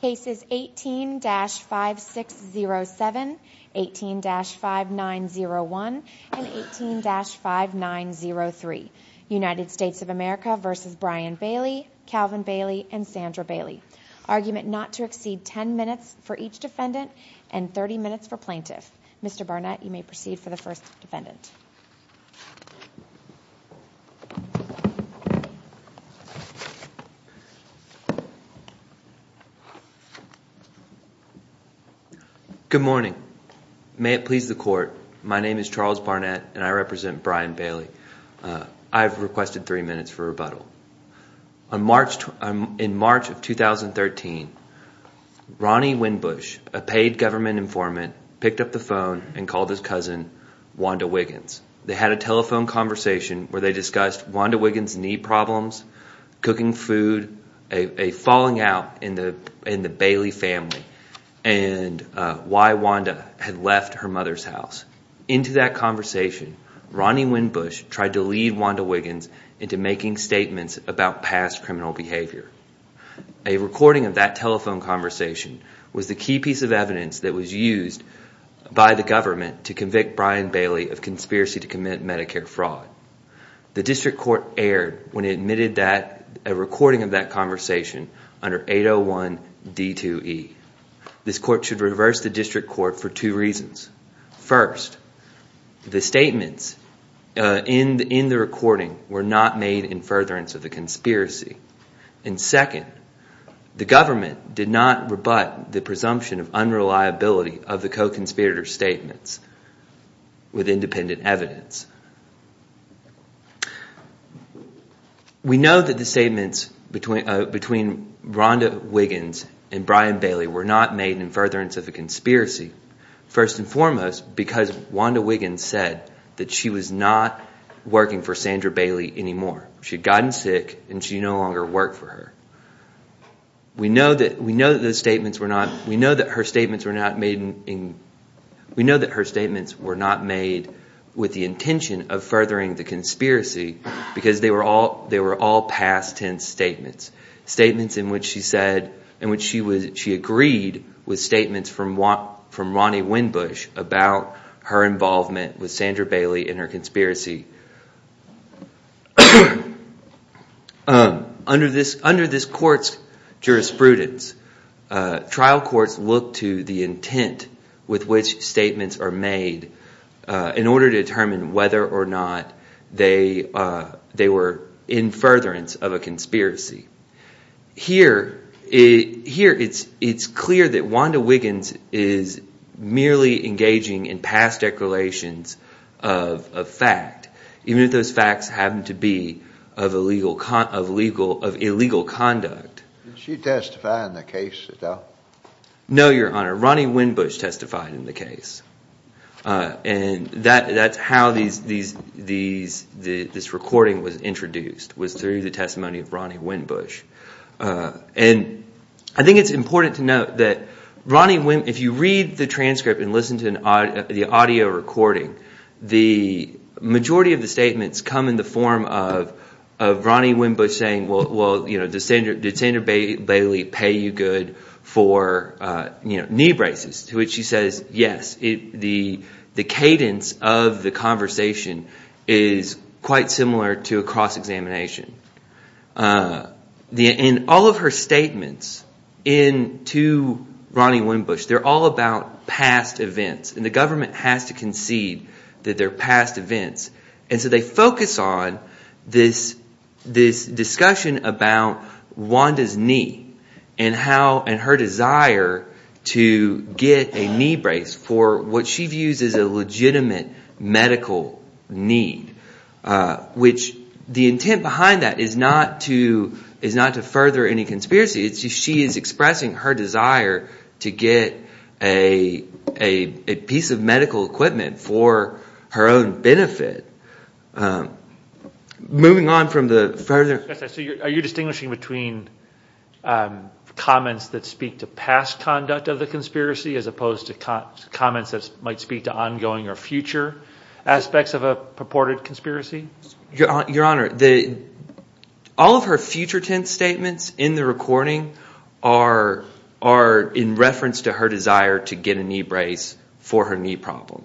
Case is 18-5607, 18-5901, and 18-5903 United States of America v. Bryan Bailey, Calvin Bailey, and Sandra Bailey. Argument not to exceed 10 minutes for each defendant and 30 minutes for plaintiff. Mr. Barnett, you may proceed for the first defendant. Good morning. May it please the court, my name is Charles Barnett and I represent Bryan Bailey. I have requested three minutes for rebuttal. In March of 2013, Ronnie Winbush, a paid government informant, picked up the phone and called his cousin, Wanda Wiggins. They had a telephone conversation where they discussed Wanda Wiggins' knee problems, cooking food, a falling out in the Bailey family, and why Wanda had left her mother's house. Into that conversation, Ronnie Winbush tried to lead Wanda Wiggins into making statements about past criminal behavior. A recording of that telephone conversation was the key piece of evidence that was used by the government to convict Bryan Bailey of conspiracy to commit Medicare fraud. The district court erred when it admitted a recording of that conversation under 801 D2E. This court should reverse the district court for two reasons. First, the statements in the recording were not made in furtherance of the conspiracy. And second, the government did not rebut the presumption of unreliability of the co-conspirator's statements with independent evidence. We know that the statements between Wanda Wiggins and Bryan Bailey were not made in furtherance of the conspiracy. First and foremost, because Wanda Wiggins said that she was not working for Sandra Bailey anymore. She had gotten sick and she no longer worked for her. We know that her statements were not made with the intention of furthering the conspiracy because they were all past tense statements. Statements in which she said – in which she agreed with statements from Ronnie Winbush about her involvement with Sandra Bailey and her conspiracy. Under this court's jurisprudence, trial courts look to the intent with which statements are made in order to determine whether or not they were in furtherance of a conspiracy. Here, it's clear that Wanda Wiggins is merely engaging in past declarations of fact, even if those facts happen to be of illegal conduct. Did she testify in the case at all? No, Your Honor. Ronnie Winbush testified in the case. And that's how this recording was introduced, was through the testimony of Ronnie Winbush. And I think it's important to note that if you read the transcript and listen to the audio recording, the majority of the statements come in the form of Ronnie Winbush saying, well, did Sandra Bailey pay you good for knee braces, to which she says, yes. The cadence of the conversation is quite similar to a cross-examination. In all of her statements to Ronnie Winbush, they're all about past events, and the government has to concede that they're past events. And so they focus on this discussion about Wanda's knee and how – and her desire to get a knee brace for what she views as a legitimate medical need. Which the intent behind that is not to further any conspiracy. It's just she is expressing her desire to get a piece of medical equipment for her own benefit. Moving on from the further – Your Honor, all of her future tense statements in the recording are in reference to her desire to get a knee brace for her knee problem.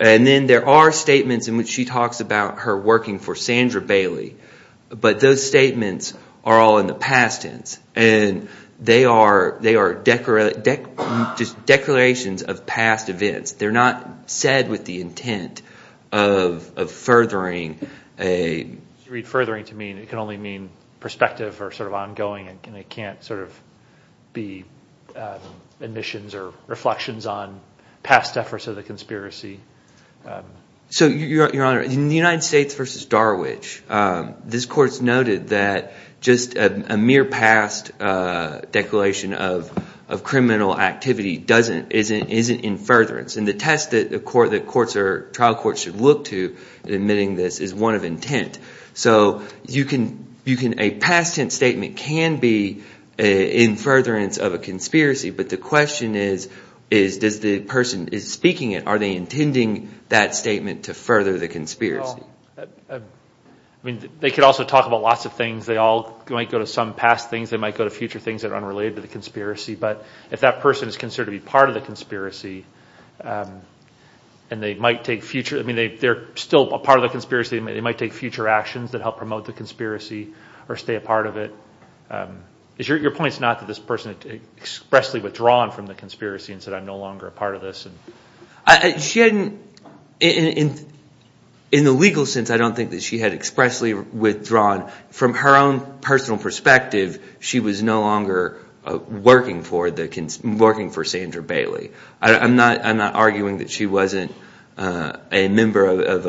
And then there are statements in which she talks about her working for Sandra Bailey, but those statements are all in the past tense. And they are just declarations of past events. They're not said with the intent of furthering a – You read furthering to mean – it can only mean perspective or sort of ongoing, and it can't sort of be admissions or reflections on past efforts of the conspiracy. So, Your Honor, in the United States v. Darwich, this court's noted that just a mere past declaration of criminal activity doesn't – isn't in furtherance. And the test that courts or trial courts should look to in admitting this is one of intent. So you can – a past tense statement can be in furtherance of a conspiracy. But the question is, does the person who is speaking it, are they intending that statement to further the conspiracy? I mean, they could also talk about lots of things. They all might go to some past things. They might go to future things that are unrelated to the conspiracy. But if that person is considered to be part of the conspiracy, and they might take future – I mean, they're still a part of the conspiracy. They might take future actions that help promote the conspiracy or stay a part of it. Your point is not that this person expressly withdrawn from the conspiracy and said, I'm no longer a part of this. She hadn't – in the legal sense, I don't think that she had expressly withdrawn. From her own personal perspective, she was no longer working for the – working for Sandra Bailey. I'm not arguing that she wasn't a member of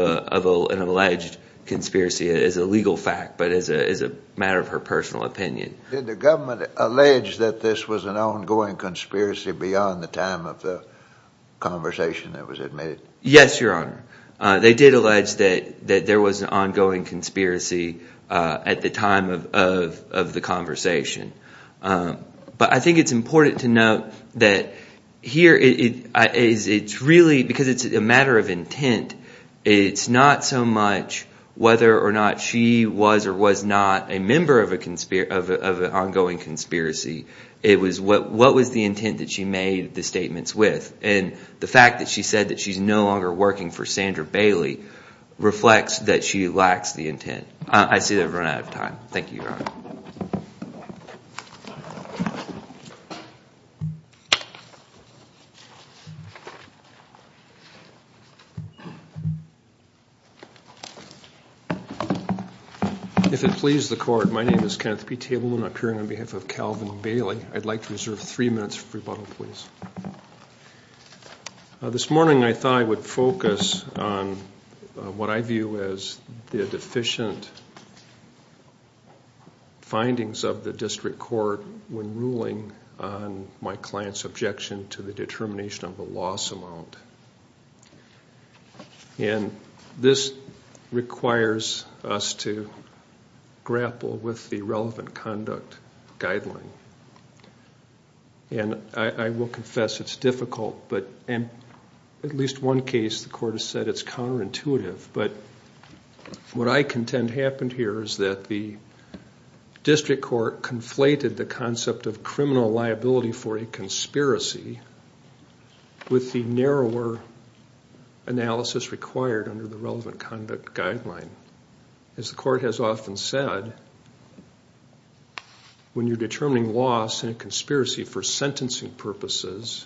an alleged conspiracy as a legal fact but as a matter of her personal opinion. Did the government allege that this was an ongoing conspiracy beyond the time of the conversation that was admitted? Yes, Your Honor. They did allege that there was an ongoing conspiracy at the time of the conversation. But I think it's important to note that here it's really – because it's a matter of intent, it's not so much whether or not she was or was not a member of an ongoing conspiracy. It was what was the intent that she made the statements with. And the fact that she said that she's no longer working for Sandra Bailey reflects that she lacks the intent. I see that I've run out of time. Thank you, Your Honor. If it pleases the court, my name is Kenneth P. Tableman. I'm appearing on behalf of Calvin Bailey. I'd like to reserve three minutes for rebuttal, please. This morning I thought I would focus on what I view as the deficient findings of the district court when ruling on my client's objection to the determination of a loss amount. And this requires us to grapple with the relevant conduct guideline. And I will confess it's difficult, but in at least one case the court has said it's counterintuitive. But what I contend happened here is that the district court conflated the concept of criminal liability for a conspiracy with the narrower analysis required under the relevant conduct guideline. As the court has often said, when you're determining loss in a conspiracy for sentencing purposes,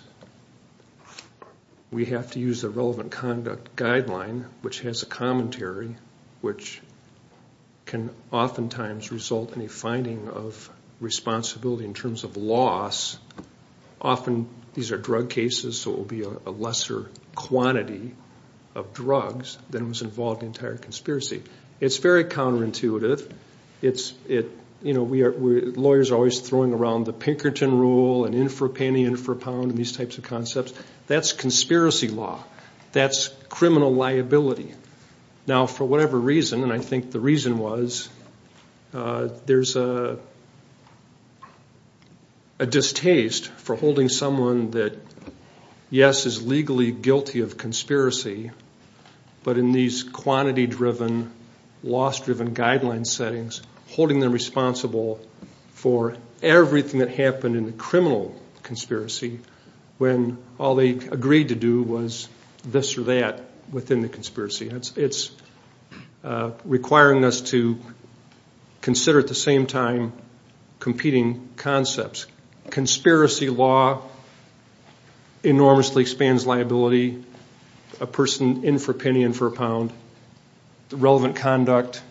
we have to use the relevant conduct guideline, which has a commentary, which can oftentimes result in a finding of responsibility in terms of loss. Often these are drug cases, so it will be a lesser quantity of drugs than was involved in the entire conspiracy. It's very counterintuitive. Lawyers are always throwing around the Pinkerton rule and in for a penny, in for a pound and these types of concepts. That's conspiracy law. That's criminal liability. Now, for whatever reason, and I think the reason was there's a distaste for holding someone that, yes, is legally guilty of conspiracy, but in these quantity-driven, loss-driven guideline settings, holding them responsible for everything that happened in the criminal conspiracy when all they agreed to do was this or that within the conspiracy. It's requiring us to consider at the same time competing concepts. Conspiracy law enormously expands liability, a person in for a penny, in for a pound, the relevant conduct.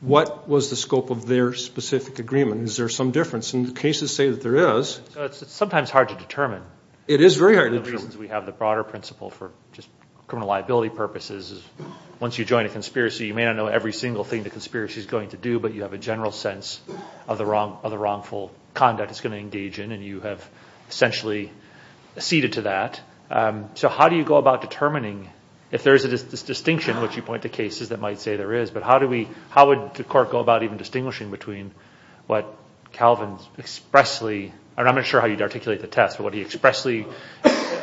What was the scope of their specific agreement? Is there some difference? And the cases say that there is. It's sometimes hard to determine. It is very hard to determine. One of the reasons we have the broader principle for just criminal liability purposes is once you join a conspiracy, you may not know every single thing the conspiracy is going to do, but you have a general sense of the wrongful conduct it's going to engage in, and you have essentially ceded to that. So how do you go about determining if there is a distinction, which you point to cases that might say there is, but how would the court go about even distinguishing between what Calvin expressly, and I'm not sure how you'd articulate the test, but what he expressly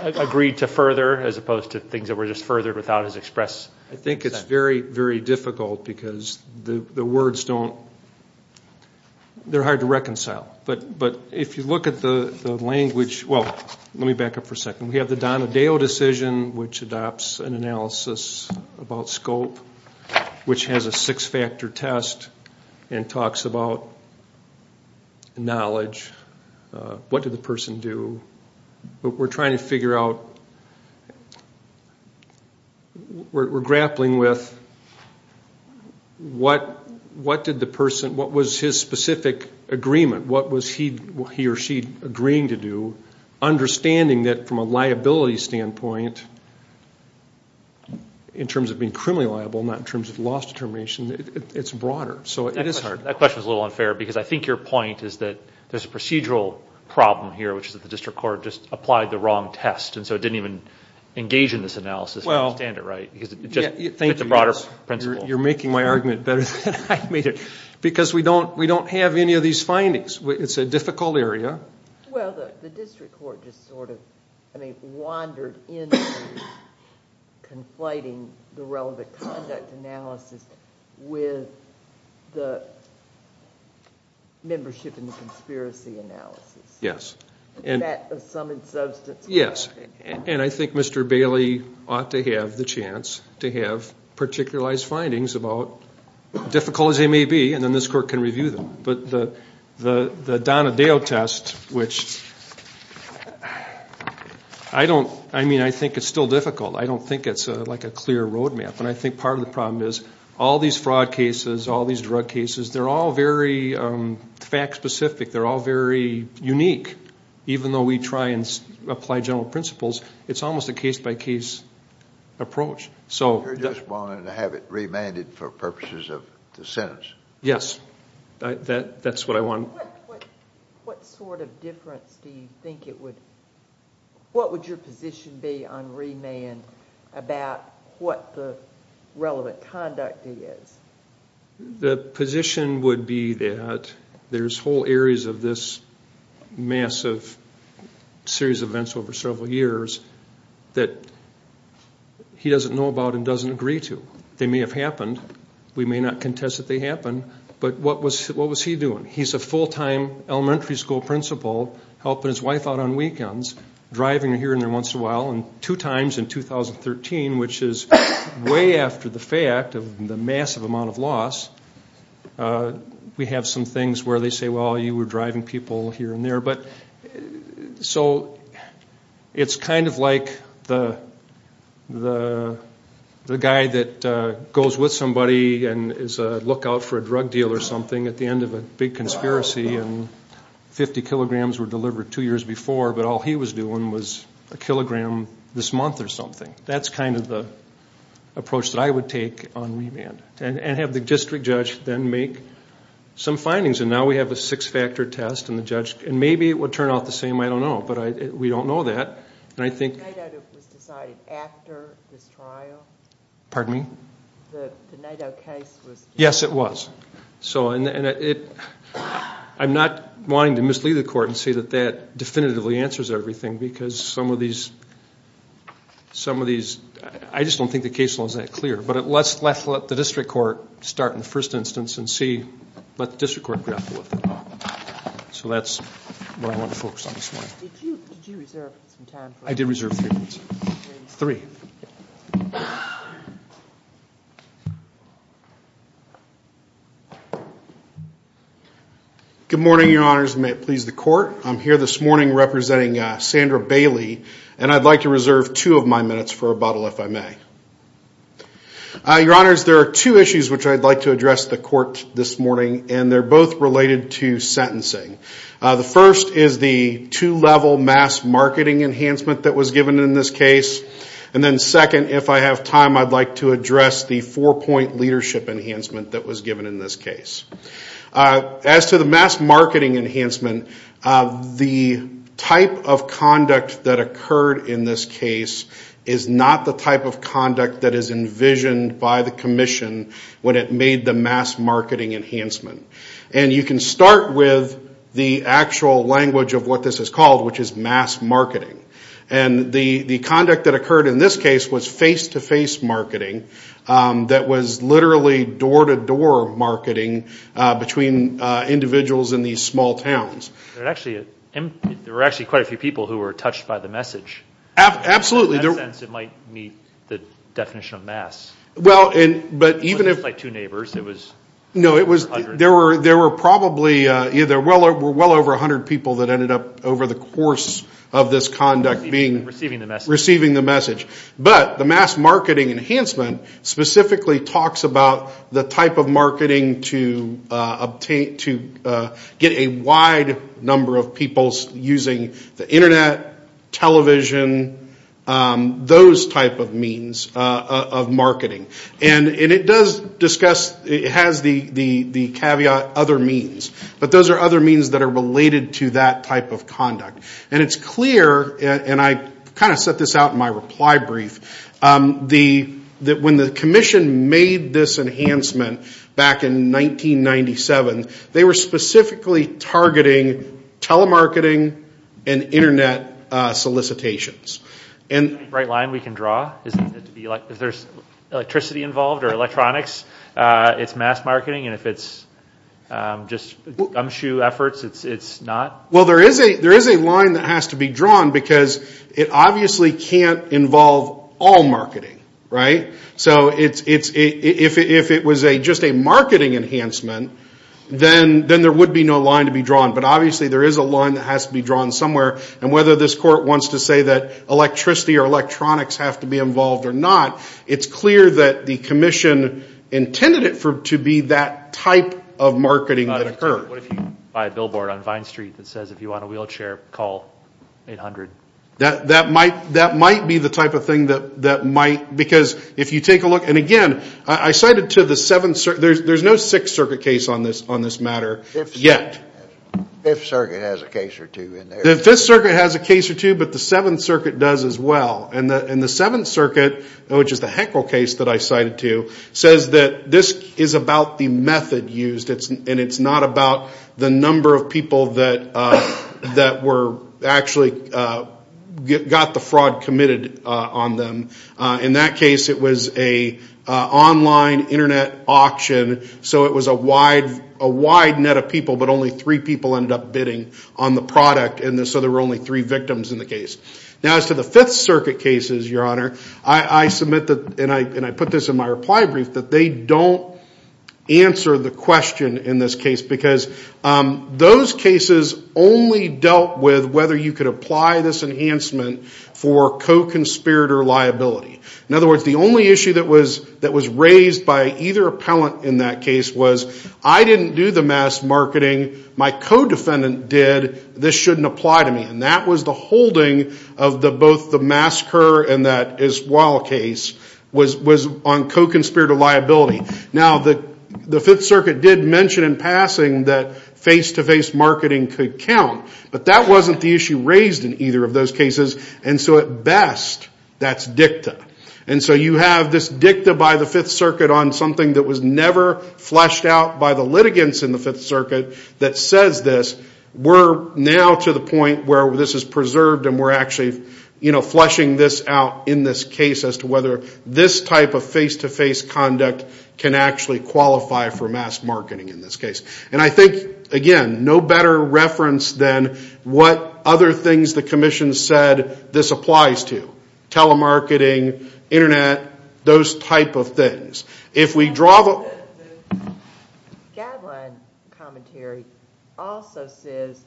agreed to further as opposed to things that were just furthered without his express consent? I think it's very, very difficult because the words don't, they're hard to reconcile. But if you look at the language, well, let me back up for a second. We have the Donadeo decision, which adopts an analysis about scope, which has a six-factor test and talks about knowledge, what did the person do. But we're trying to figure out, we're grappling with what did the person, what was his specific agreement? What was he or she agreeing to do? Understanding that from a liability standpoint, in terms of being criminally liable, not in terms of loss determination, it's broader. So it is hard. That question was a little unfair because I think your point is that there's a procedural problem here, which is that the district court just applied the wrong test, and so it didn't even engage in this analysis to understand it right. It just fit the broader principle. You're making my argument better than I made it. Because we don't have any of these findings. It's a difficult area. Well, the district court just sort of, I mean, Membership in the conspiracy analysis. Yes. That of some substance. Yes. And I think Mr. Bailey ought to have the chance to have particularized findings about, difficult as they may be, and then this court can review them. But the Donadeo test, which I don't, I mean, I think it's still difficult. I don't think it's like a clear road map. And I think part of the problem is all these fraud cases, all these drug cases, they're all very fact specific. They're all very unique. Even though we try and apply general principles, it's almost a case-by-case approach. You're just wanting to have it remanded for purposes of the sentence. Yes. That's what I want. What sort of difference do you think it would, What would your position be on remand about what the relevant conduct is? The position would be that there's whole areas of this massive series of events over several years that he doesn't know about and doesn't agree to. They may have happened. We may not contest that they happened. But what was he doing? He's a full-time elementary school principal helping his wife out on weekends, driving her here and there once in a while, and two times in 2013, which is way after the fact of the massive amount of loss. We have some things where they say, well, you were driving people here and there. So it's kind of like the guy that goes with somebody and is a lookout for a drug deal or something at the end of a big conspiracy and 50 kilograms were delivered two years before, but all he was doing was a kilogram this month or something. That's kind of the approach that I would take on remand and have the district judge then make some findings. Now we have a six-factor test, and maybe it would turn out the same. I don't know. But we don't know that. The Naito case was decided after this trial? Pardon me? The Naito case was decided? Yes, it was. I'm not wanting to mislead the court and say that that definitively answers everything because some of these – I just don't think the case law is that clear. But let's let the district court start in the first instance and let the district court grapple with it. So that's what I want to focus on this morning. Did you reserve some time for this? I did reserve three minutes. Three. Good morning, Your Honors, and may it please the court. I'm here this morning representing Sandra Bailey, and I'd like to reserve two of my minutes for rebuttal if I may. Your Honors, there are two issues which I'd like to address the court this morning, and they're both related to sentencing. The first is the two-level mass marketing enhancement that was given in this case, and then second, if I have time, I'd like to address the four-point leadership enhancement that was given in this case. As to the mass marketing enhancement, the type of conduct that occurred in this case is not the type of conduct that is envisioned by the commission when it made the mass marketing enhancement. And you can start with the actual language of what this is called, which is mass marketing. And the conduct that occurred in this case was face-to-face marketing that was literally door-to-door marketing between individuals in these small towns. There were actually quite a few people who were touched by the message. Absolutely. In that sense, it might meet the definition of mass. Well, but even if – It wasn't just like two neighbors. No, there were probably either well over 100 people that ended up over the course of this conduct being – Receiving the message. Receiving the message. But the mass marketing enhancement specifically talks about the type of marketing to get a wide number of people using the Internet, television, those type of means of marketing. And it does discuss – it has the caveat other means. But those are other means that are related to that type of conduct. And it's clear, and I kind of set this out in my reply brief, that when the commission made this enhancement back in 1997, they were specifically targeting telemarketing and Internet solicitations. Is that the right line we can draw? Is there electricity involved or electronics? It's mass marketing, and if it's just gumshoe efforts, it's not? Well, there is a line that has to be drawn because it obviously can't involve all marketing, right? So if it was just a marketing enhancement, then there would be no line to be drawn. But obviously there is a line that has to be drawn somewhere. And whether this court wants to say that electricity or electronics have to be involved or not, it's clear that the commission intended it to be that type of marketing that occurred. What if you buy a billboard on Vine Street that says, if you want a wheelchair, call 800? That might be the type of thing that might – because if you take a look – and again, I cited to the Seventh – there's no Sixth Circuit case on this matter yet. The Fifth Circuit has a case or two in there. The Fifth Circuit has a case or two, but the Seventh Circuit does as well. And the Seventh Circuit, which is the Heckle case that I cited to, says that this is about the method used and it's not about the number of people that were actually – got the fraud committed on them. In that case, it was an online internet auction. So it was a wide net of people, but only three people ended up bidding on the product. And so there were only three victims in the case. Now as to the Fifth Circuit cases, Your Honor, I submit that – and I put this in my reply brief – that they don't answer the question in this case because those cases only dealt with whether you could apply this enhancement for co-conspirator liability. In other words, the only issue that was raised by either appellant in that case was, I didn't do the mass marketing. My co-defendant did. This shouldn't apply to me. And that was the holding of both the MassCur and that Iswal case was on co-conspirator liability. Now the Fifth Circuit did mention in passing that face-to-face marketing could count, but that wasn't the issue raised in either of those cases. And so at best, that's dicta. And so you have this dicta by the Fifth Circuit on something that was never fleshed out by the litigants in the Fifth Circuit that says this. We're now to the point where this is preserved and we're actually fleshing this out in this case as to whether this type of face-to-face conduct can actually qualify for mass marketing in this case. And I think, again, no better reference than what other things the Commission said this applies to, telemarketing, Internet, those type of things. The guideline commentary also says,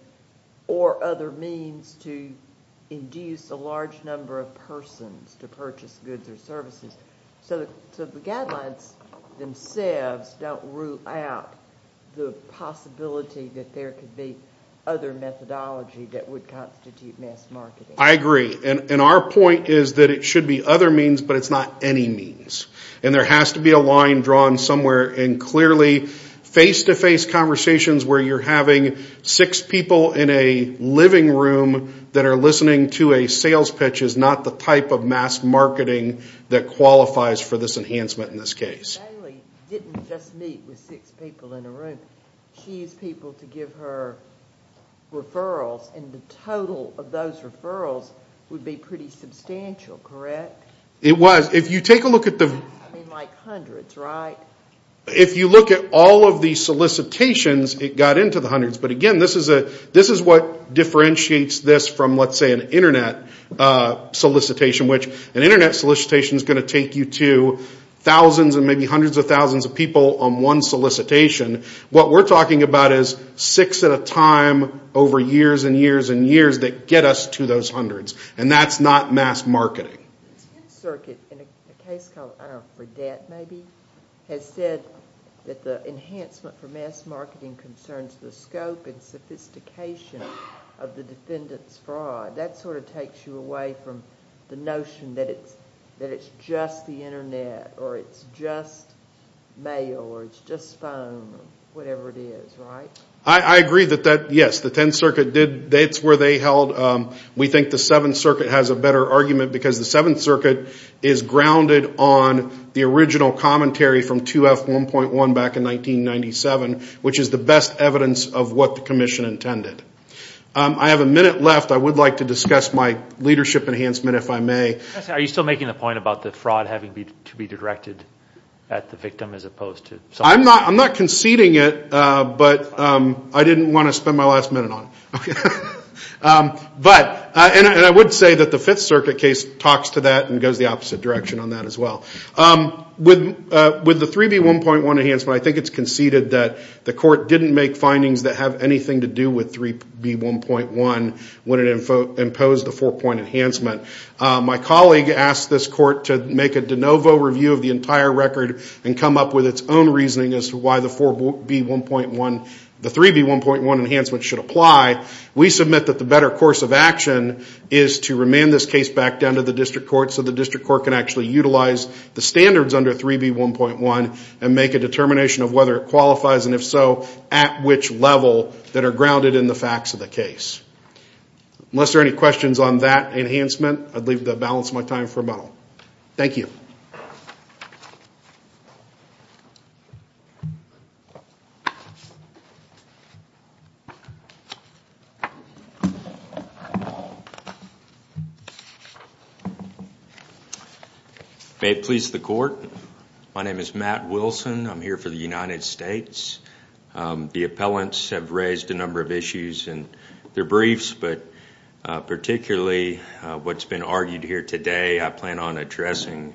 or other means to induce a large number of persons to purchase goods or services. So the guidelines themselves don't rule out the possibility that there could be other methodology that would constitute mass marketing. I agree. And our point is that it should be other means, but it's not any means. And there has to be a line drawn somewhere in clearly face-to-face conversations where you're having six people in a living room that are listening to a sales pitch is not the type of mass marketing that qualifies for this enhancement in this case. Bailey didn't just meet with six people in a room. She used people to give her referrals, and the total of those referrals would be pretty substantial, correct? It was. If you take a look at the I mean, like hundreds, right? If you look at all of the solicitations, it got into the hundreds. But, again, this is what differentiates this from, let's say, an Internet solicitation, which an Internet solicitation is going to take you to thousands and maybe hundreds of thousands of people on one solicitation. What we're talking about is six at a time over years and years and years that get us to those hundreds, and that's not mass marketing. The Tenth Circuit, in a case called, I don't know, for debt maybe, has said that the enhancement for mass marketing concerns the scope and sophistication of the defendant's fraud. That sort of takes you away from the notion that it's just the Internet or it's just mail or it's just phone or whatever it is, right? I agree that that, yes, the Tenth Circuit did. That's where they held. We think the Seventh Circuit has a better argument because the Seventh Circuit is grounded on the original commentary from 2F1.1 back in 1997, which is the best evidence of what the commission intended. I have a minute left. I would like to discuss my leadership enhancement, if I may. Are you still making the point about the fraud having to be directed at the victim as opposed to solicitors? I'm not conceding it, but I didn't want to spend my last minute on it. But I would say that the Fifth Circuit case talks to that and goes the opposite direction on that as well. With the 3B1.1 enhancement, I think it's conceded that the court didn't make findings that have anything to do with 3B1.1 when it imposed the four-point enhancement. My colleague asked this court to make a de novo review of the entire record and come up with its own reasoning as to why the 3B1.1 enhancement should apply. We submit that the better course of action is to remand this case back down to the district court so the district court can actually utilize the standards under 3B1.1 and make a determination of whether it qualifies, and if so, at which level that are grounded in the facts of the case. Unless there are any questions on that enhancement, I'd leave the balance of my time for a moment. Thank you. Thank you. May it please the court. My name is Matt Wilson. I'm here for the United States. The appellants have raised a number of issues in their briefs, but particularly what's been argued here today, I plan on addressing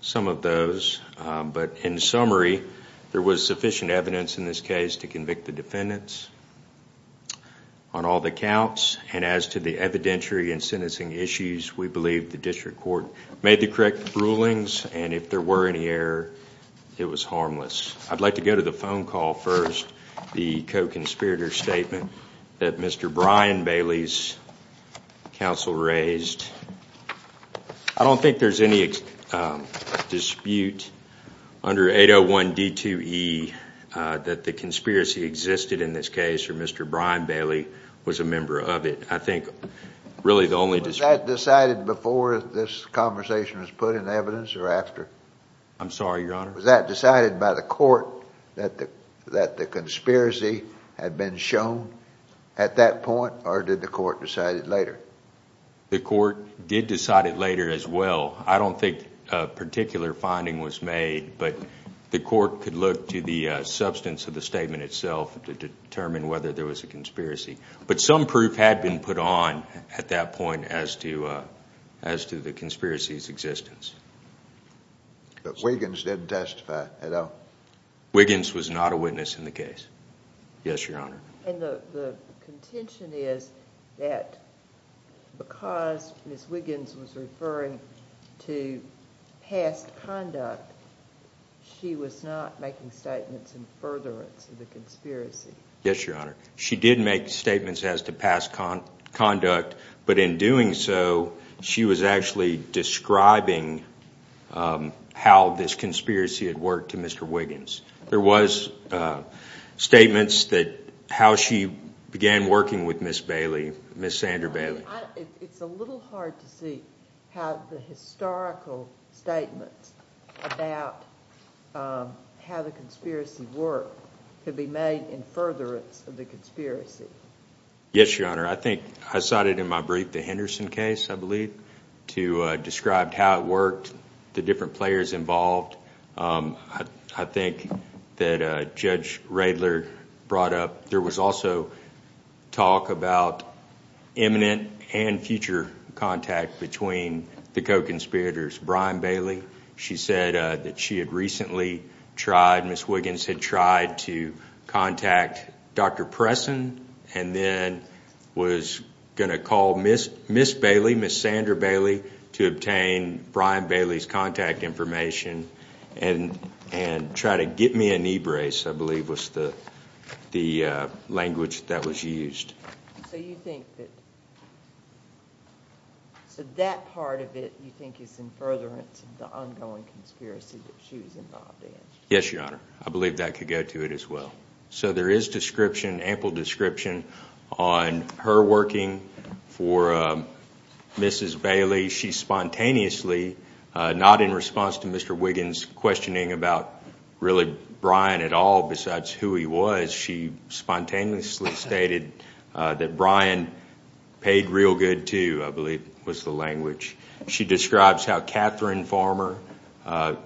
some of those. But in summary, there was sufficient evidence in this case to convict the defendants on all the counts, and as to the evidentiary and sentencing issues, we believe the district court made the correct rulings, and if there were any error, it was harmless. I'd like to go to the phone call first, the co-conspirator statement that Mr. Brian Bailey's counsel raised. I don't think there's any dispute under 801D2E that the conspiracy existed in this case or Mr. Brian Bailey was a member of it. I think really the only dispute- Was that decided before this conversation was put in evidence or after? I'm sorry, Your Honor? Was that decided by the court that the conspiracy had been shown at that point, or did the court decide it later? The court did decide it later as well. I don't think a particular finding was made, but the court could look to the substance of the statement itself to determine whether there was a conspiracy. But some proof had been put on at that point as to the conspiracy's existence. But Wiggins didn't testify at all? Wiggins was not a witness in the case, yes, Your Honor. And the contention is that because Ms. Wiggins was referring to past conduct, she was not making statements in furtherance of the conspiracy. Yes, Your Honor. She did make statements as to past conduct, but in doing so, she was actually describing how this conspiracy had worked to Mr. Wiggins. There was statements that how she began working with Ms. Bailey, Ms. Sandra Bailey. It's a little hard to see how the historical statements about how the conspiracy worked could be made in furtherance of the conspiracy. Yes, Your Honor. I think I cited in my brief the Henderson case, I believe, to describe how it worked, the different players involved. I think that Judge Radler brought up there was also talk about imminent and future contact between the co-conspirators, Brian Bailey. She said that she had recently tried, Ms. Wiggins had tried to contact Dr. Pressen and then was going to call Ms. Bailey, Ms. Sandra Bailey, to obtain Brian Bailey's contact information and try to get me a knee brace, I believe was the language that was used. So you think that, so that part of it you think is in furtherance of the ongoing conspiracy that she was involved in? Yes, Your Honor. I believe that could go to it as well. So there is description, ample description on her working for Mrs. Bailey. She spontaneously, not in response to Mr. Wiggins questioning about really Brian at all besides who he was, she spontaneously stated that Brian paid real good too, I believe was the language. She describes how Catherine Farmer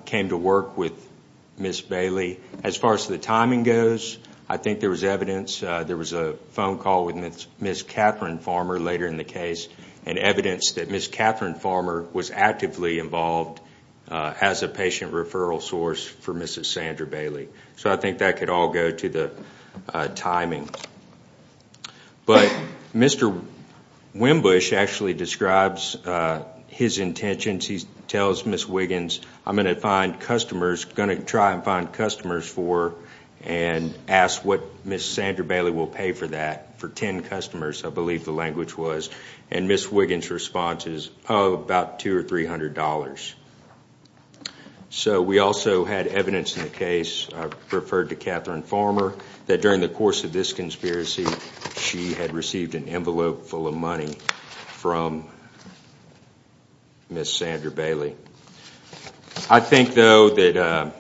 came to work with Ms. Bailey. As far as the timing goes, I think there was evidence, there was a phone call with Ms. Catherine Farmer later in the case and evidence that Ms. Catherine Farmer was actively involved as a patient referral source for Mrs. Sandra Bailey. So I think that could all go to the timing. But Mr. Wimbush actually describes his intentions. He tells Ms. Wiggins, I'm going to find customers, going to try and find customers for and ask what Ms. Sandra Bailey will pay for that, for ten customers, I believe the language was. And Ms. Wiggins' response is, oh, about $200 or $300. So we also had evidence in the case, I referred to Catherine Farmer, that during the course of this conspiracy she had received an envelope full of money from Ms. Sandra Bailey. I think though that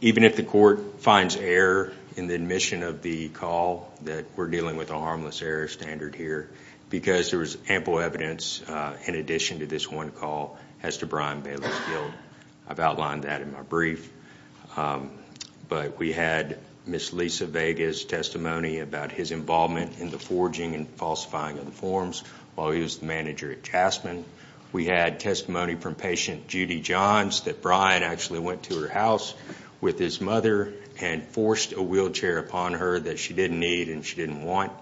even if the court finds error in the admission of the call, that we're dealing with a harmless error standard here, because there was ample evidence in addition to this one call as to Brian Bailey's guilt. I've outlined that in my brief. But we had Ms. Lisa Vega's testimony about his involvement in the forging and falsifying of the forms while he was the manager at Jasmine. We had testimony from patient Judy Johns that Brian actually went to her house with his mother and forced a wheelchair upon her that she didn't need and she didn't want.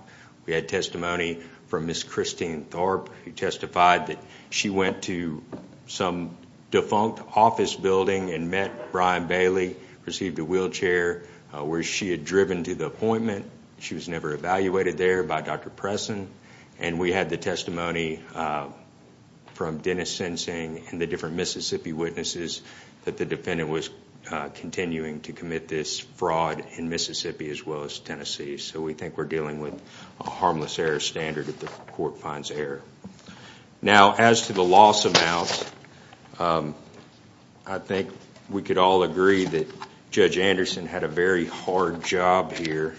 We had testimony from Ms. Christine Thorpe who testified that she went to some defunct office building and met Brian Bailey, received a wheelchair where she had driven to the appointment. She was never evaluated there by Dr. Presson. And we had the testimony from Dennis Sensing and the different Mississippi witnesses that the defendant was continuing to commit this fraud in Mississippi as well as Tennessee. So we think we're dealing with a harmless error standard if the court finds error. Now as to the loss amounts, I think we could all agree that Judge Anderson had a very hard job here.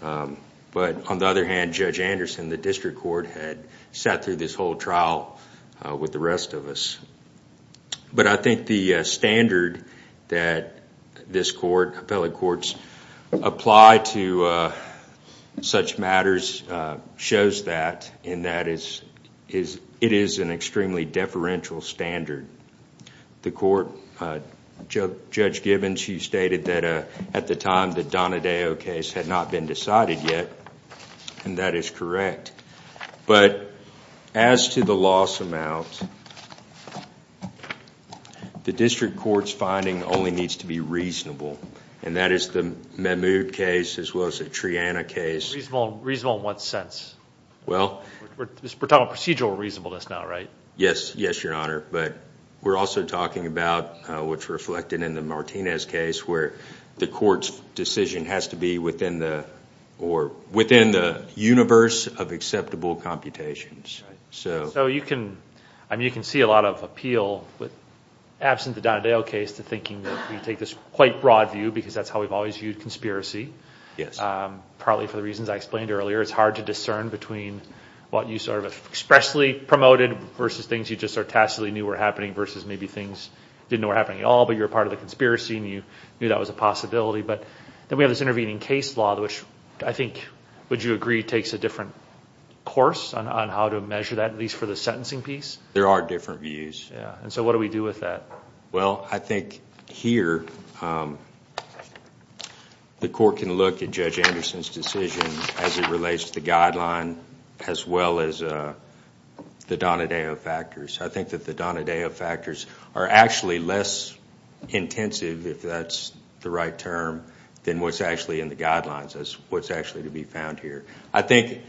But on the other hand, Judge Anderson, the district court, had sat through this whole trial with the rest of us. But I think the standard that this court, appellate courts, apply to such matters shows that and that it is an extremely deferential standard. The court, Judge Gibbons, you stated that at the time the Donadeo case had not been decided yet. And that is correct. But as to the loss amount, the district court's finding only needs to be reasonable. And that is the Mahmoud case as well as the Triana case. Reasonable in what sense? Well... We're talking about procedural reasonableness now, right? Yes, your honor. But we're also talking about what's reflected in the Martinez case where the court's decision has to be within the universe of acceptable computations. So you can see a lot of appeal, absent the Donadeo case, to thinking that we take this quite broad view because that's how we've always viewed conspiracy. Yes. Probably for the reasons I explained earlier, it's hard to discern between what you sort of expressly promoted versus things you just sort of tacitly knew were happening versus maybe things you didn't know were happening at all but you were part of the conspiracy and you knew that was a possibility. But then we have this intervening case law, which I think, would you agree, takes a different course on how to measure that, at least for the sentencing piece? There are different views. And so what do we do with that? Well, I think here the court can look at Judge Anderson's decision as it relates to the guideline as well as the Donadeo factors. I think that the Donadeo factors are actually less intensive, if that's the right term, than what's actually in the guidelines, what's actually to be found here. I think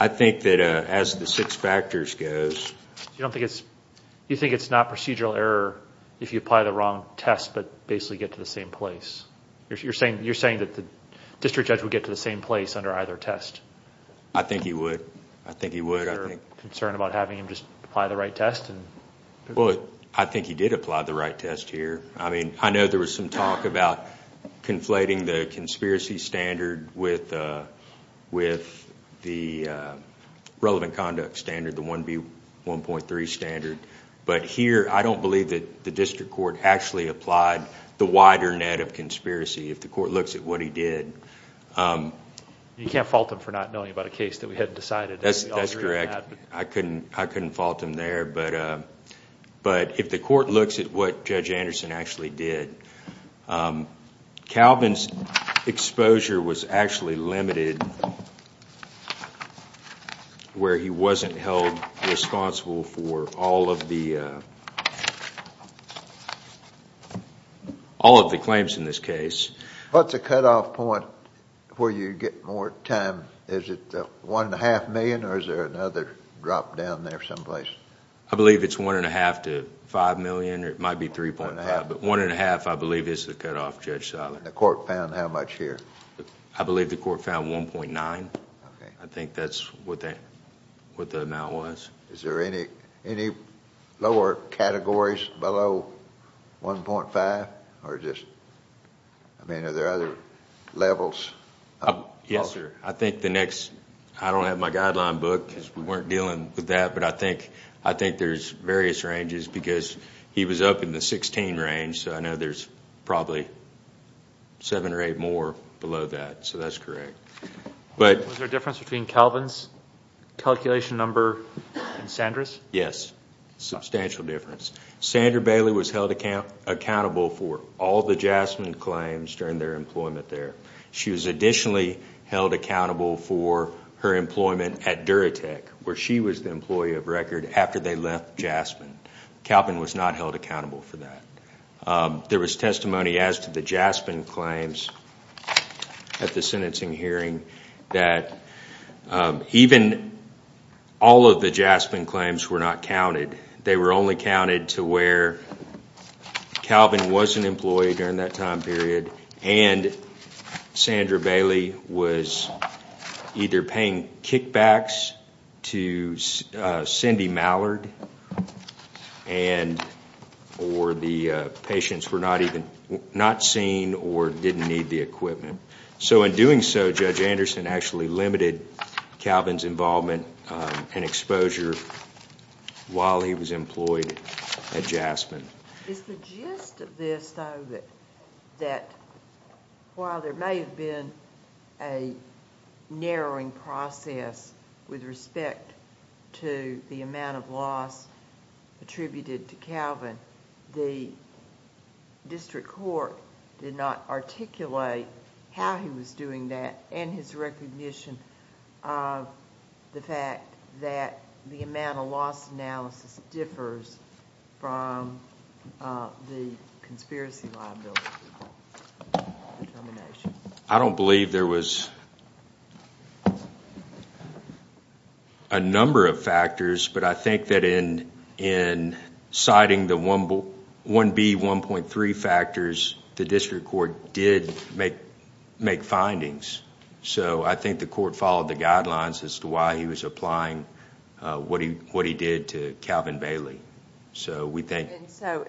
that as the six factors goes... You think it's not procedural error if you apply the wrong test but basically get to the same place? You're saying that the district judge would get to the same place under either test? I think he would. I think he would. Is there concern about having him just apply the right test? Well, I think he did apply the right test here. I mean, I know there was some talk about conflating the conspiracy standard with the relevant conduct standard, the 1B1.3 standard. But here I don't believe that the district court actually applied the wider net of conspiracy, if the court looks at what he did. You can't fault him for not knowing about a case that we hadn't decided. That's correct. I couldn't fault him there. But if the court looks at what Judge Anderson actually did, Calvin's exposure was actually limited where he wasn't held responsible for all of the claims in this case. What's the cutoff point where you get more time? Is it 1.5 million or is there another drop down there someplace? I believe it's 1.5 to 5 million. It might be 3.5, but 1.5 I believe is the cutoff, Judge Seiler. The court found how much here? I believe the court found 1.9. I think that's what the amount was. Is there any lower categories below 1.5? Are there other levels? Yes, sir. I don't have my guideline book because we weren't dealing with that, but I think there's various ranges because he was up in the 16 range, so I know there's probably seven or eight more below that, so that's correct. Was there a difference between Calvin's calculation number and Sandra's? Yes, substantial difference. Sandra Bailey was held accountable for all the Jasmine claims during their employment there. She was additionally held accountable for her employment at Duratec, where she was the employee of record after they left Jasmine. Calvin was not held accountable for that. There was testimony as to the Jasmine claims at the sentencing hearing that even all of the Jasmine claims were not counted. They were only counted to where Calvin was an employee during that time period and Sandra Bailey was either paying kickbacks to Cindy Mallard or the patients were not seen or didn't need the equipment. In doing so, Judge Anderson actually limited Calvin's involvement and exposure while he was employed at Jasmine. Is the gist of this though that while there may have been a narrowing process with respect to the amount of loss attributed to Calvin, the district court did not articulate how he was doing that and his recognition of the fact that the amount of loss analysis differs from the conspiracy liability determination? I don't believe there was a number of factors, but I think that in citing the 1B, 1.3 factors, the district court did make findings. I think the court followed the guidelines as to why he was applying what he did to Calvin Bailey.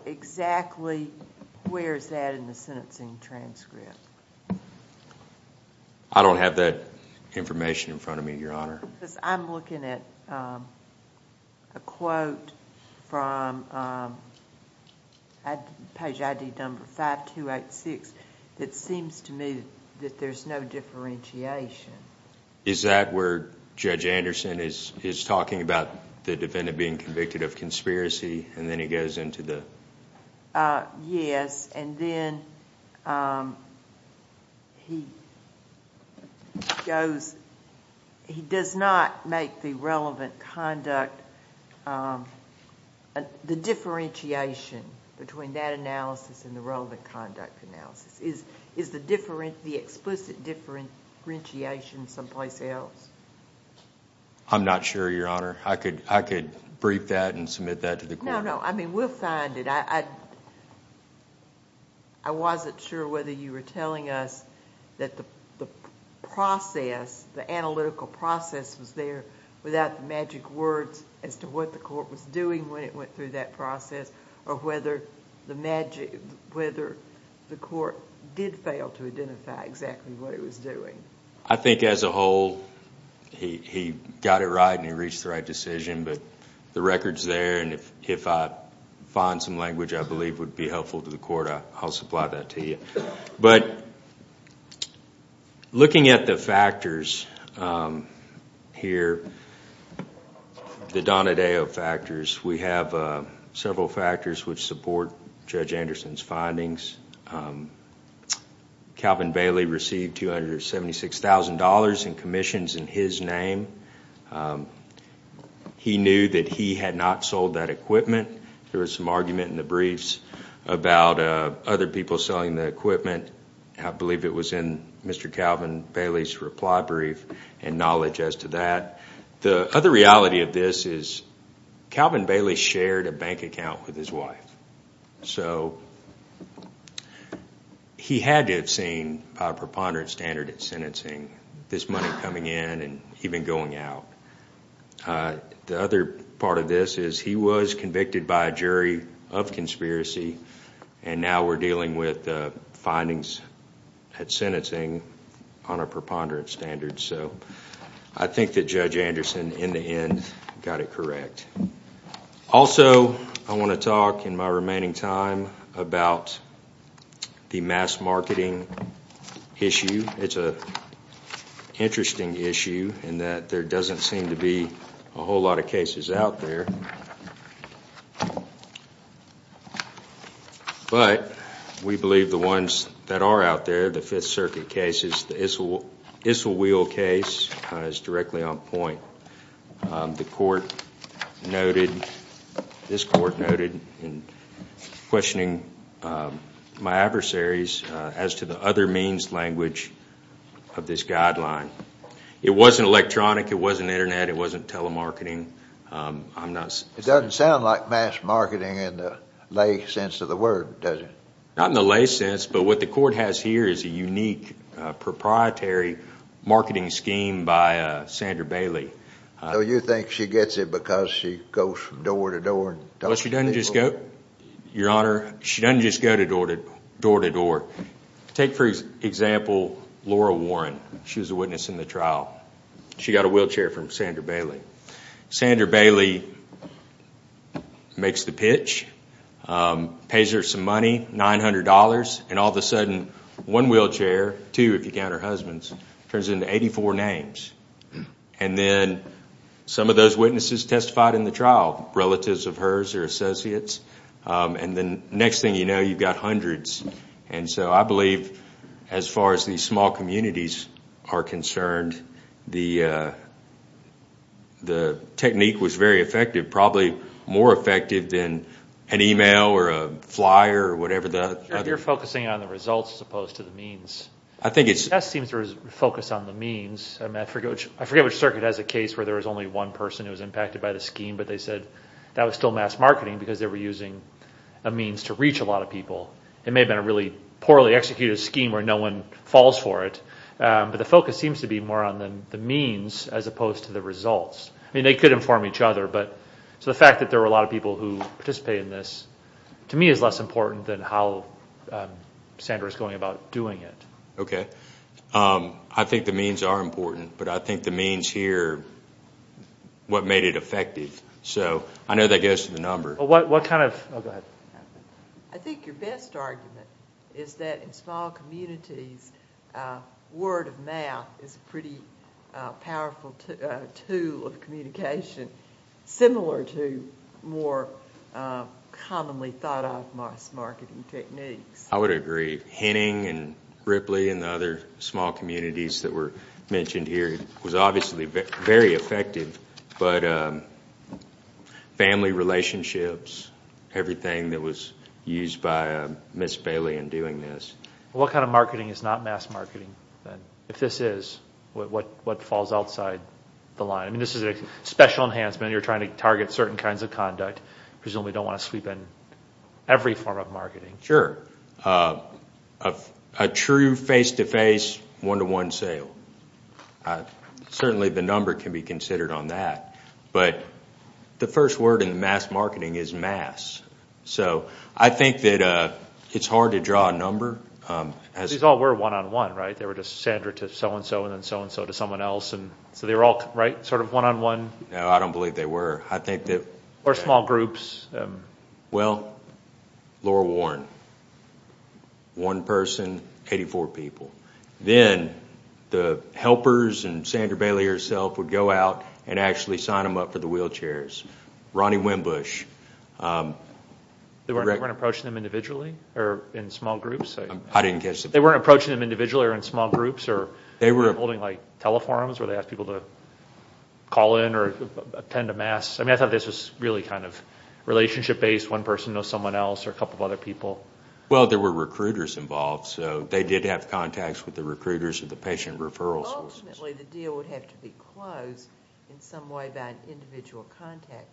Exactly where is that in the sentencing transcript? I don't have that information in front of me, Your Honor. I'm looking at a quote from page ID number 5286 that seems to me that there's no differentiation. Is that where Judge Anderson is talking about the defendant being convicted of conspiracy and then he goes into the...? Yes, and then he does not make the relevant conduct... The differentiation between that analysis and the relevant conduct analysis. Is the explicit differentiation someplace else? I'm not sure, Your Honor. I could brief that and submit that to the court. No, no. We'll find it. I wasn't sure whether you were telling us that the process, the analytical process was there without the magic words as to what the court was doing when it went through that process or whether the court did fail to identify exactly what it was doing. I think as a whole, he got it right and he reached the right decision, but the record's there and if I find some language I believe would be helpful to the court, I'll supply that to you. But looking at the factors here, the Donadeo factors, we have several factors which support Judge Anderson's findings. Calvin Bailey received $276,000 in commissions in his name. He knew that he had not sold that equipment. There was some argument in the briefs about other people selling the equipment. I believe it was in Mr. Calvin Bailey's reply brief and knowledge as to that. The other reality of this is Calvin Bailey shared a bank account with his wife, so he had to have seen a preponderant standard in sentencing, this money coming in and even going out. The other part of this is he was convicted by a jury of conspiracy and now we're dealing with findings at sentencing on a preponderant standard. So I think that Judge Anderson, in the end, got it correct. Also, I want to talk in my remaining time about the mass marketing issue. It's an interesting issue in that there doesn't seem to be a whole lot of cases out there. But we believe the ones that are out there, the Fifth Circuit cases, the Isselweil case is directly on point. The court noted, this court noted in questioning my adversaries as to the other means language of this guideline. It wasn't electronic, it wasn't Internet, it wasn't telemarketing. It doesn't sound like mass marketing in the lay sense of the word, does it? Not in the lay sense, but what the court has here is a unique proprietary marketing scheme run by Sandra Bailey. So you think she gets it because she goes from door to door? Well, she doesn't just go, Your Honor, she doesn't just go door to door. Take, for example, Laura Warren. She was a witness in the trial. She got a wheelchair from Sandra Bailey. Sandra Bailey makes the pitch, pays her some money, $900, and all of a sudden one wheelchair, two if you count her husband's, turns into 84 names. And then some of those witnesses testified in the trial, relatives of hers or associates. And the next thing you know, you've got hundreds. And so I believe as far as these small communities are concerned, the technique was very effective, probably more effective than an email or a flyer or whatever the other. You're focusing on the results as opposed to the means. I think it's. That seems to focus on the means. I forget which circuit has a case where there was only one person who was impacted by the scheme, but they said that was still mass marketing because they were using a means to reach a lot of people. It may have been a really poorly executed scheme where no one falls for it, I mean, they could inform each other, but the fact that there were a lot of people who participated in this to me is less important than how Sandra is going about doing it. Okay. I think the means are important, but I think the means here, what made it effective. So I know that goes to the number. What kind of, oh, go ahead. I think your best argument is that in small communities, word of mouth is a pretty powerful tool of communication, similar to more commonly thought of mass marketing techniques. I would agree. Henning and Ripley and the other small communities that were mentioned here was obviously very effective, but family relationships, everything that was used by Ms. Bailey in doing this. What kind of marketing is not mass marketing then? If this is, what falls outside the line? I mean, this is a special enhancement. You're trying to target certain kinds of conduct. Presumably you don't want to sweep in every form of marketing. Sure. A true face-to-face, one-to-one sale. Certainly the number can be considered on that, but the first word in mass marketing is mass. I think that it's hard to draw a number. These all were one-on-one, right? They were just Sandra to so-and-so and then so-and-so to someone else. So they were all, right, sort of one-on-one? No, I don't believe they were. Or small groups. Well, Laura Warren, one person, 84 people. Then the helpers and Sandra Bailey herself would go out and actually sign them up for the wheelchairs. Ronnie Winbush. They weren't approaching them individually or in small groups? I didn't catch that. They weren't approaching them individually or in small groups or holding, like, teleforms where they ask people to call in or attend a mass? I mean, I thought this was really kind of relationship-based, one person knows someone else or a couple of other people. Well, there were recruiters involved, so they did have contacts with the recruiters of the patient referral services. Unfortunately, the deal would have to be closed in some way by an individual contact.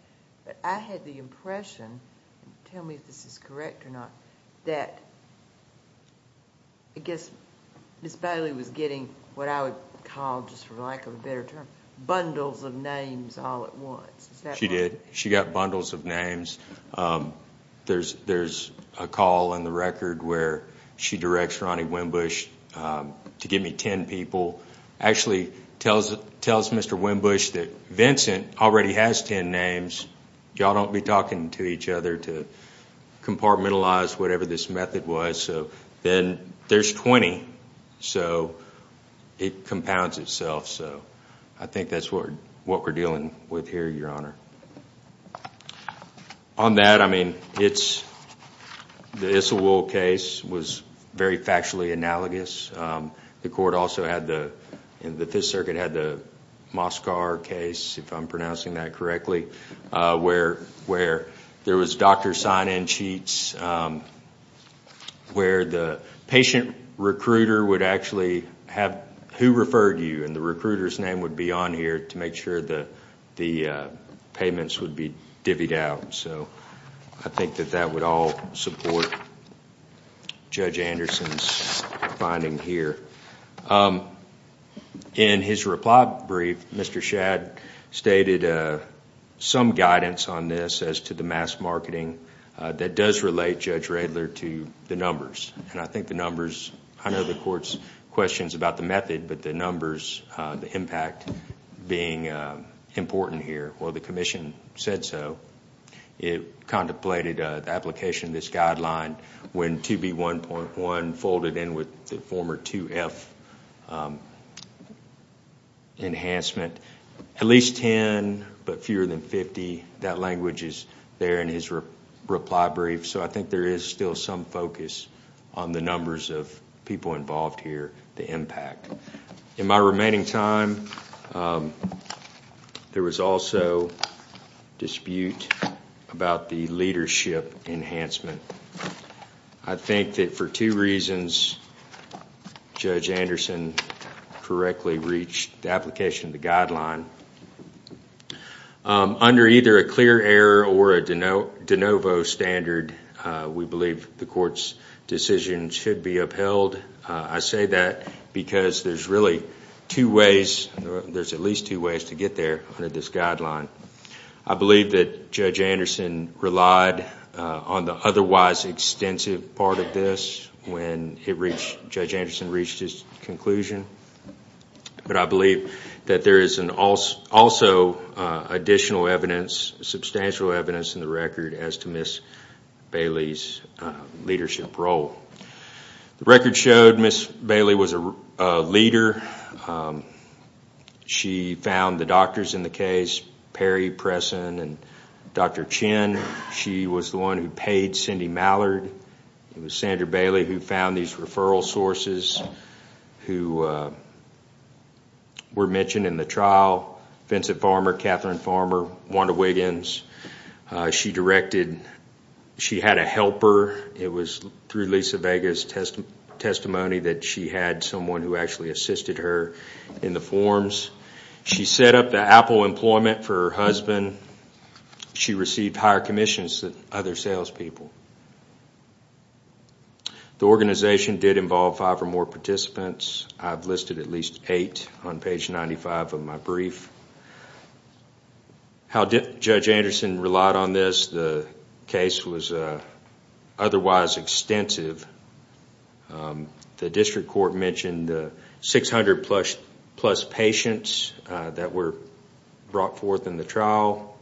But I had the impression, tell me if this is correct or not, that I guess Ms. Bailey was getting what I would call, just for lack of a better term, bundles of names all at once. She did. She got bundles of names. There's a call in the record where she directs Ronnie Winbush to give me ten people. Actually tells Mr. Winbush that Vincent already has ten names. Y'all don't be talking to each other to compartmentalize whatever this method was. So then there's 20. So it compounds itself. So I think that's what we're dealing with here, Your Honor. On that, I mean, the Isselwold case was very factually analogous. The court also had the, the Fifth Circuit had the Moscar case, if I'm pronouncing that correctly, where there was doctor sign-in cheats where the patient recruiter would actually have who referred you, and the recruiter's name would be on here to make sure the payments would be divvied out. So I think that that would all support Judge Anderson's finding here. In his reply brief, Mr. Shadd stated some guidance on this as to the mass marketing that does relate Judge Radler to the numbers. And I think the numbers, I know the court's questions about the method, but the numbers, the impact being important here. Well, the commission said so. It contemplated the application of this guideline when 2B1.1 folded in with the former 2F enhancement. At least ten, but fewer than 50. That language is there in his reply brief. So I think there is still some focus on the numbers of people involved here, the impact. In my remaining time, there was also dispute about the leadership enhancement. I think that for two reasons Judge Anderson correctly reached the application of the guideline. Under either a clear error or a de novo standard, we believe the court's decision should be upheld. I say that because there's really two ways, there's at least two ways to get there under this guideline. I believe that Judge Anderson relied on the otherwise extensive part of this when Judge Anderson reached his conclusion. But I believe that there is also additional evidence, substantial evidence in the record as to Ms. Bailey's leadership role. The record showed Ms. Bailey was a leader. She found the doctors in the case, Perry, Presson, and Dr. Chin. She was the one who paid Cindy Mallard. It was Sandra Bailey who found these referral sources who were mentioned in the trial, Vincent Farmer, Catherine Farmer, Wanda Wiggins. She directed, she had a helper. It was through Lisa Vega's testimony that she had someone who actually assisted her in the forms. She set up the Apple employment for her husband. She received higher commissions than other salespeople. The organization did involve five or more participants. I've listed at least eight on page 95 of my brief. How Judge Anderson relied on this, the case was otherwise extensive. The district court mentioned 600-plus patients that were brought forth in the trial.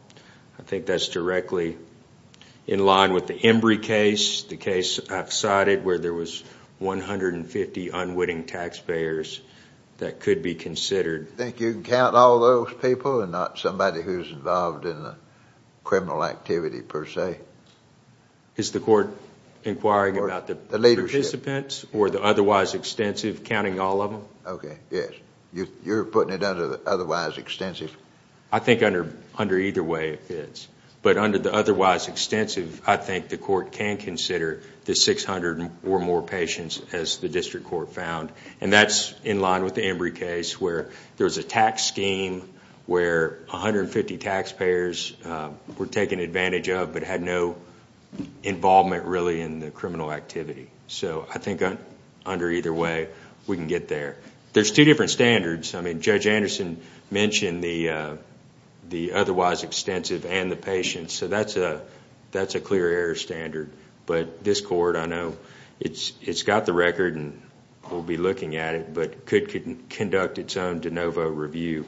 I think that's directly in line with the Embry case, the case I've cited where there was 150 unwitting taxpayers that could be considered. Do you think you can count all those people and not somebody who's involved in a criminal activity per se? Is the court inquiring about the participants or the otherwise extensive, counting all of them? Okay, yes. You're putting it under the otherwise extensive? I think under either way it is. But under the otherwise extensive, I think the court can consider the 600 or more patients, as the district court found. That's in line with the Embry case where there was a tax scheme where 150 taxpayers were taken advantage of but had no involvement really in the criminal activity. So I think under either way we can get there. There's two different standards. Judge Anderson mentioned the otherwise extensive and the patients, so that's a clear error standard. But this court, I know it's got the record and will be looking at it, but could conduct its own de novo review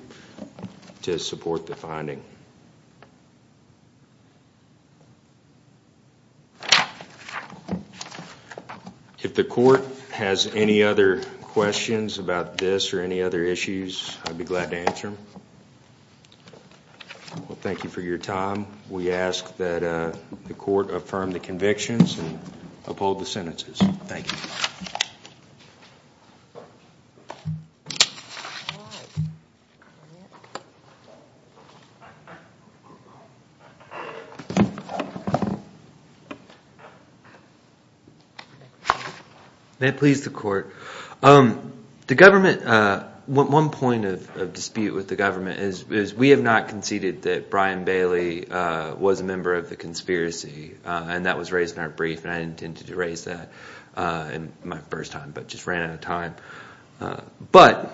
to support the finding. If the court has any other questions about this or any other issues, I'd be glad to answer them. Well, thank you for your time. We ask that the court affirm the convictions and uphold the sentences. Thank you. The government – one point of dispute with the government is we have not conceded that Brian Bailey was a member of the conspiracy. And that was raised in our brief and I intended to raise that in my first time but just ran out of time. But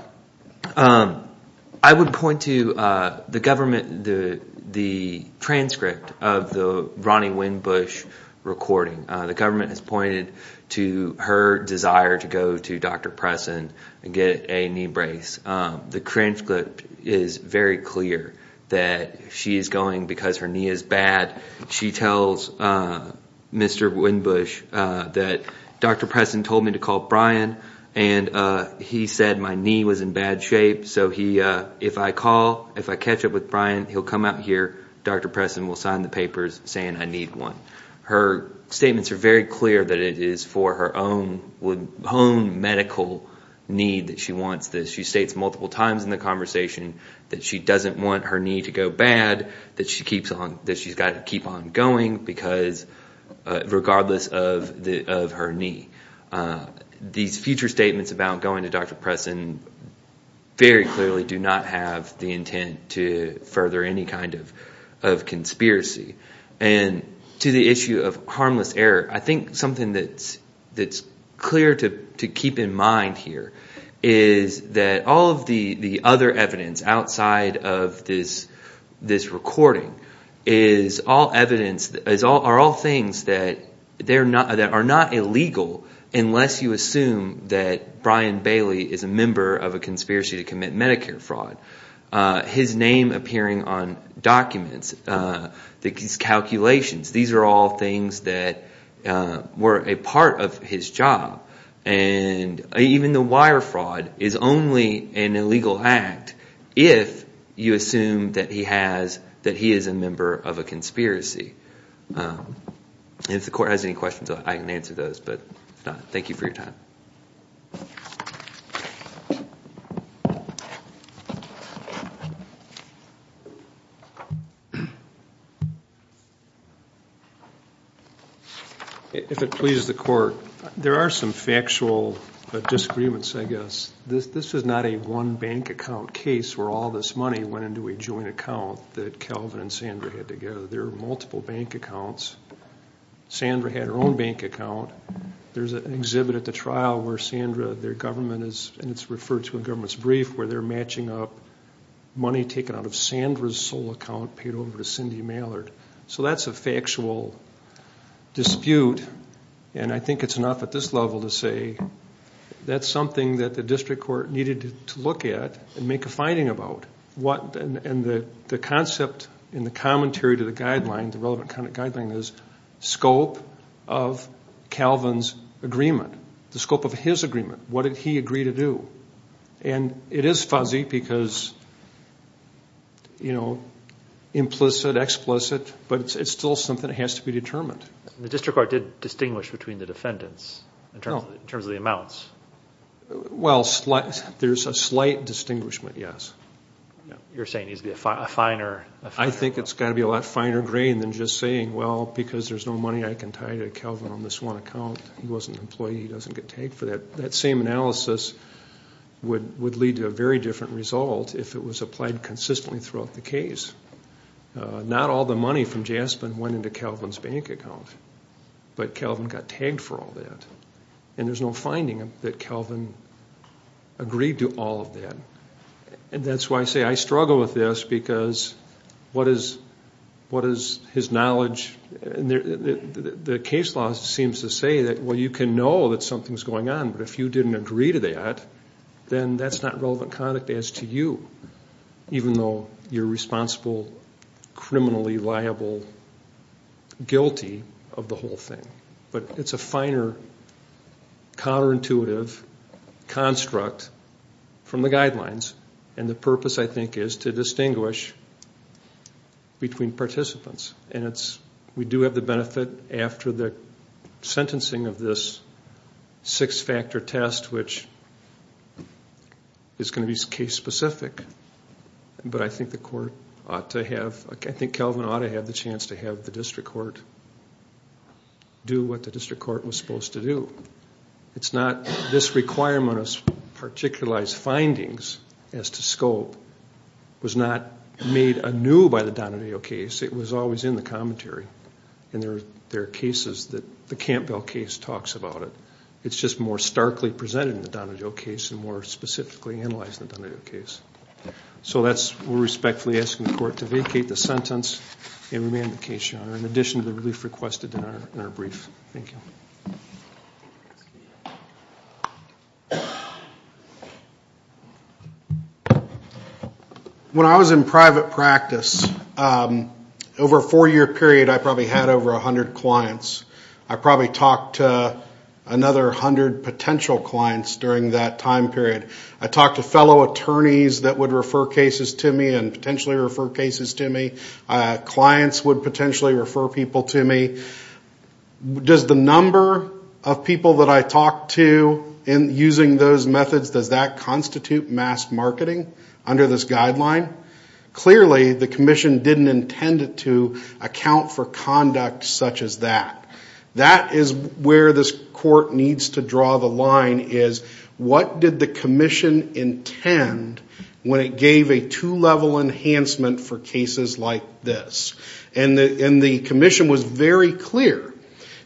I would point to the government – the transcript of the Ronnie Winn-Bush recording. The government has pointed to her desire to go to Dr. Pressen and get a knee brace. The transcript is very clear that she is going because her knee is bad. She tells Mr. Winn-Bush that Dr. Pressen told me to call Brian and he said my knee was in bad shape. So if I call, if I catch up with Brian, he'll come out here. Dr. Pressen will sign the papers saying I need one. Her statements are very clear that it is for her own medical need that she wants this. She states multiple times in the conversation that she doesn't want her knee to go bad, that she's got to keep on going because – regardless of her knee. These future statements about going to Dr. Pressen very clearly do not have the intent to further any kind of conspiracy. And to the issue of harmless error, I think something that's clear to keep in mind here is that all of the other evidence outside of this recording is all evidence – are all things that are not illegal unless you assume that Brian Bailey is a member of a conspiracy to commit Medicare fraud. His name appearing on documents, these calculations, these are all things that were a part of his job. And even the wire fraud is only an illegal act if you assume that he has – that he is a member of a conspiracy. If the court has any questions, I can answer those, but if not, thank you for your time. Thank you. If it pleases the court, there are some factual disagreements, I guess. This is not a one bank account case where all this money went into a joint account that Calvin and Sandra had together. There are multiple bank accounts. Sandra had her own bank account. There's an exhibit at the trial where Sandra – their government is – money taken out of Sandra's sole account paid over to Cindy Mallard. So that's a factual dispute. And I think it's enough at this level to say that's something that the district court needed to look at and make a finding about. And the concept in the commentary to the guideline, the relevant kind of guideline, is scope of Calvin's agreement. The scope of his agreement. What did he agree to do? And it is fuzzy because, you know, implicit, explicit, but it's still something that has to be determined. The district court did distinguish between the defendants in terms of the amounts. Well, there's a slight distinguishment, yes. You're saying it needs to be a finer – I think it's got to be a lot finer grained than just saying, well, because there's no money I can tie to Calvin on this one account. He wasn't an employee. He doesn't get tagged for that. That same analysis would lead to a very different result if it was applied consistently throughout the case. Not all the money from Jaspin went into Calvin's bank account, but Calvin got tagged for all that. And there's no finding that Calvin agreed to all of that. And that's why I say I struggle with this because what is his knowledge – the case law seems to say that, well, you can know that something's going on, but if you didn't agree to that, then that's not relevant conduct as to you, even though you're responsible, criminally liable, guilty of the whole thing. But it's a finer, counterintuitive construct from the guidelines, and the purpose, I think, is to distinguish between participants. And we do have the benefit after the sentencing of this six-factor test, which is going to be case-specific. But I think the court ought to have – I think Calvin ought to have the chance to have the district court do what the district court was supposed to do. It's not this requirement of particularized findings as to scope was not made anew by the Donatello case. It was always in the commentary. And there are cases that the Campbell case talks about it. It's just more starkly presented in the Donatello case and more specifically analyzed in the Donatello case. So that's – we're respectfully asking the court to vacate the sentence and remand the case, Your Honor, in addition to the relief requested in our brief. Thank you. Thank you. When I was in private practice, over a four-year period I probably had over 100 clients. I probably talked to another 100 potential clients during that time period. I talked to fellow attorneys that would refer cases to me and potentially refer cases to me. Clients would potentially refer people to me. Does the number of people that I talked to in using those methods, does that constitute mass marketing under this guideline? Clearly the commission didn't intend to account for conduct such as that. That is where this court needs to draw the line is what did the commission intend when it gave a two-level enhancement for cases like this? And the commission was very clear.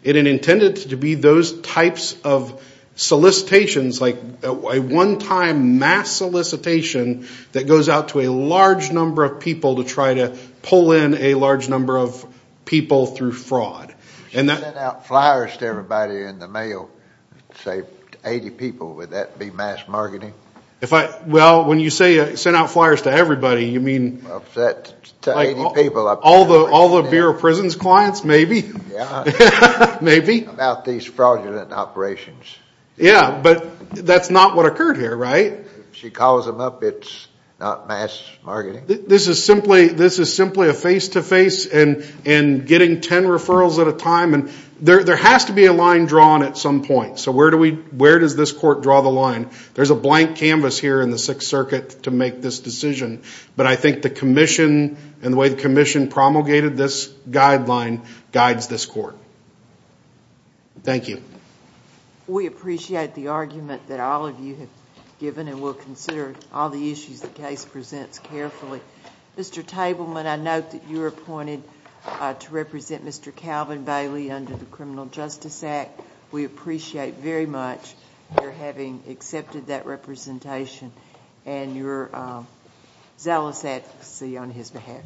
It intended to be those types of solicitations like a one-time mass solicitation that goes out to a large number of people to try to pull in a large number of people through fraud. If you sent out flyers to everybody in the mail, say 80 people, would that be mass marketing? Well, when you say sent out flyers to everybody, you mean – Like all the Bureau of Prisons clients, maybe. Maybe. About these fraudulent operations. Yeah, but that's not what occurred here, right? If she calls them up, it's not mass marketing. This is simply a face-to-face and getting 10 referrals at a time. There has to be a line drawn at some point. So where does this court draw the line? There's a blank canvas here in the Sixth Circuit to make this decision. But I think the commission and the way the commission promulgated this guideline guides this court. Thank you. We appreciate the argument that all of you have given and we'll consider all the issues the case presents carefully. Mr. Tableman, I note that you were appointed to represent Mr. Calvin Bailey under the Criminal Justice Act. We appreciate very much your having accepted that representation and you're zealous at sea on his behalf today.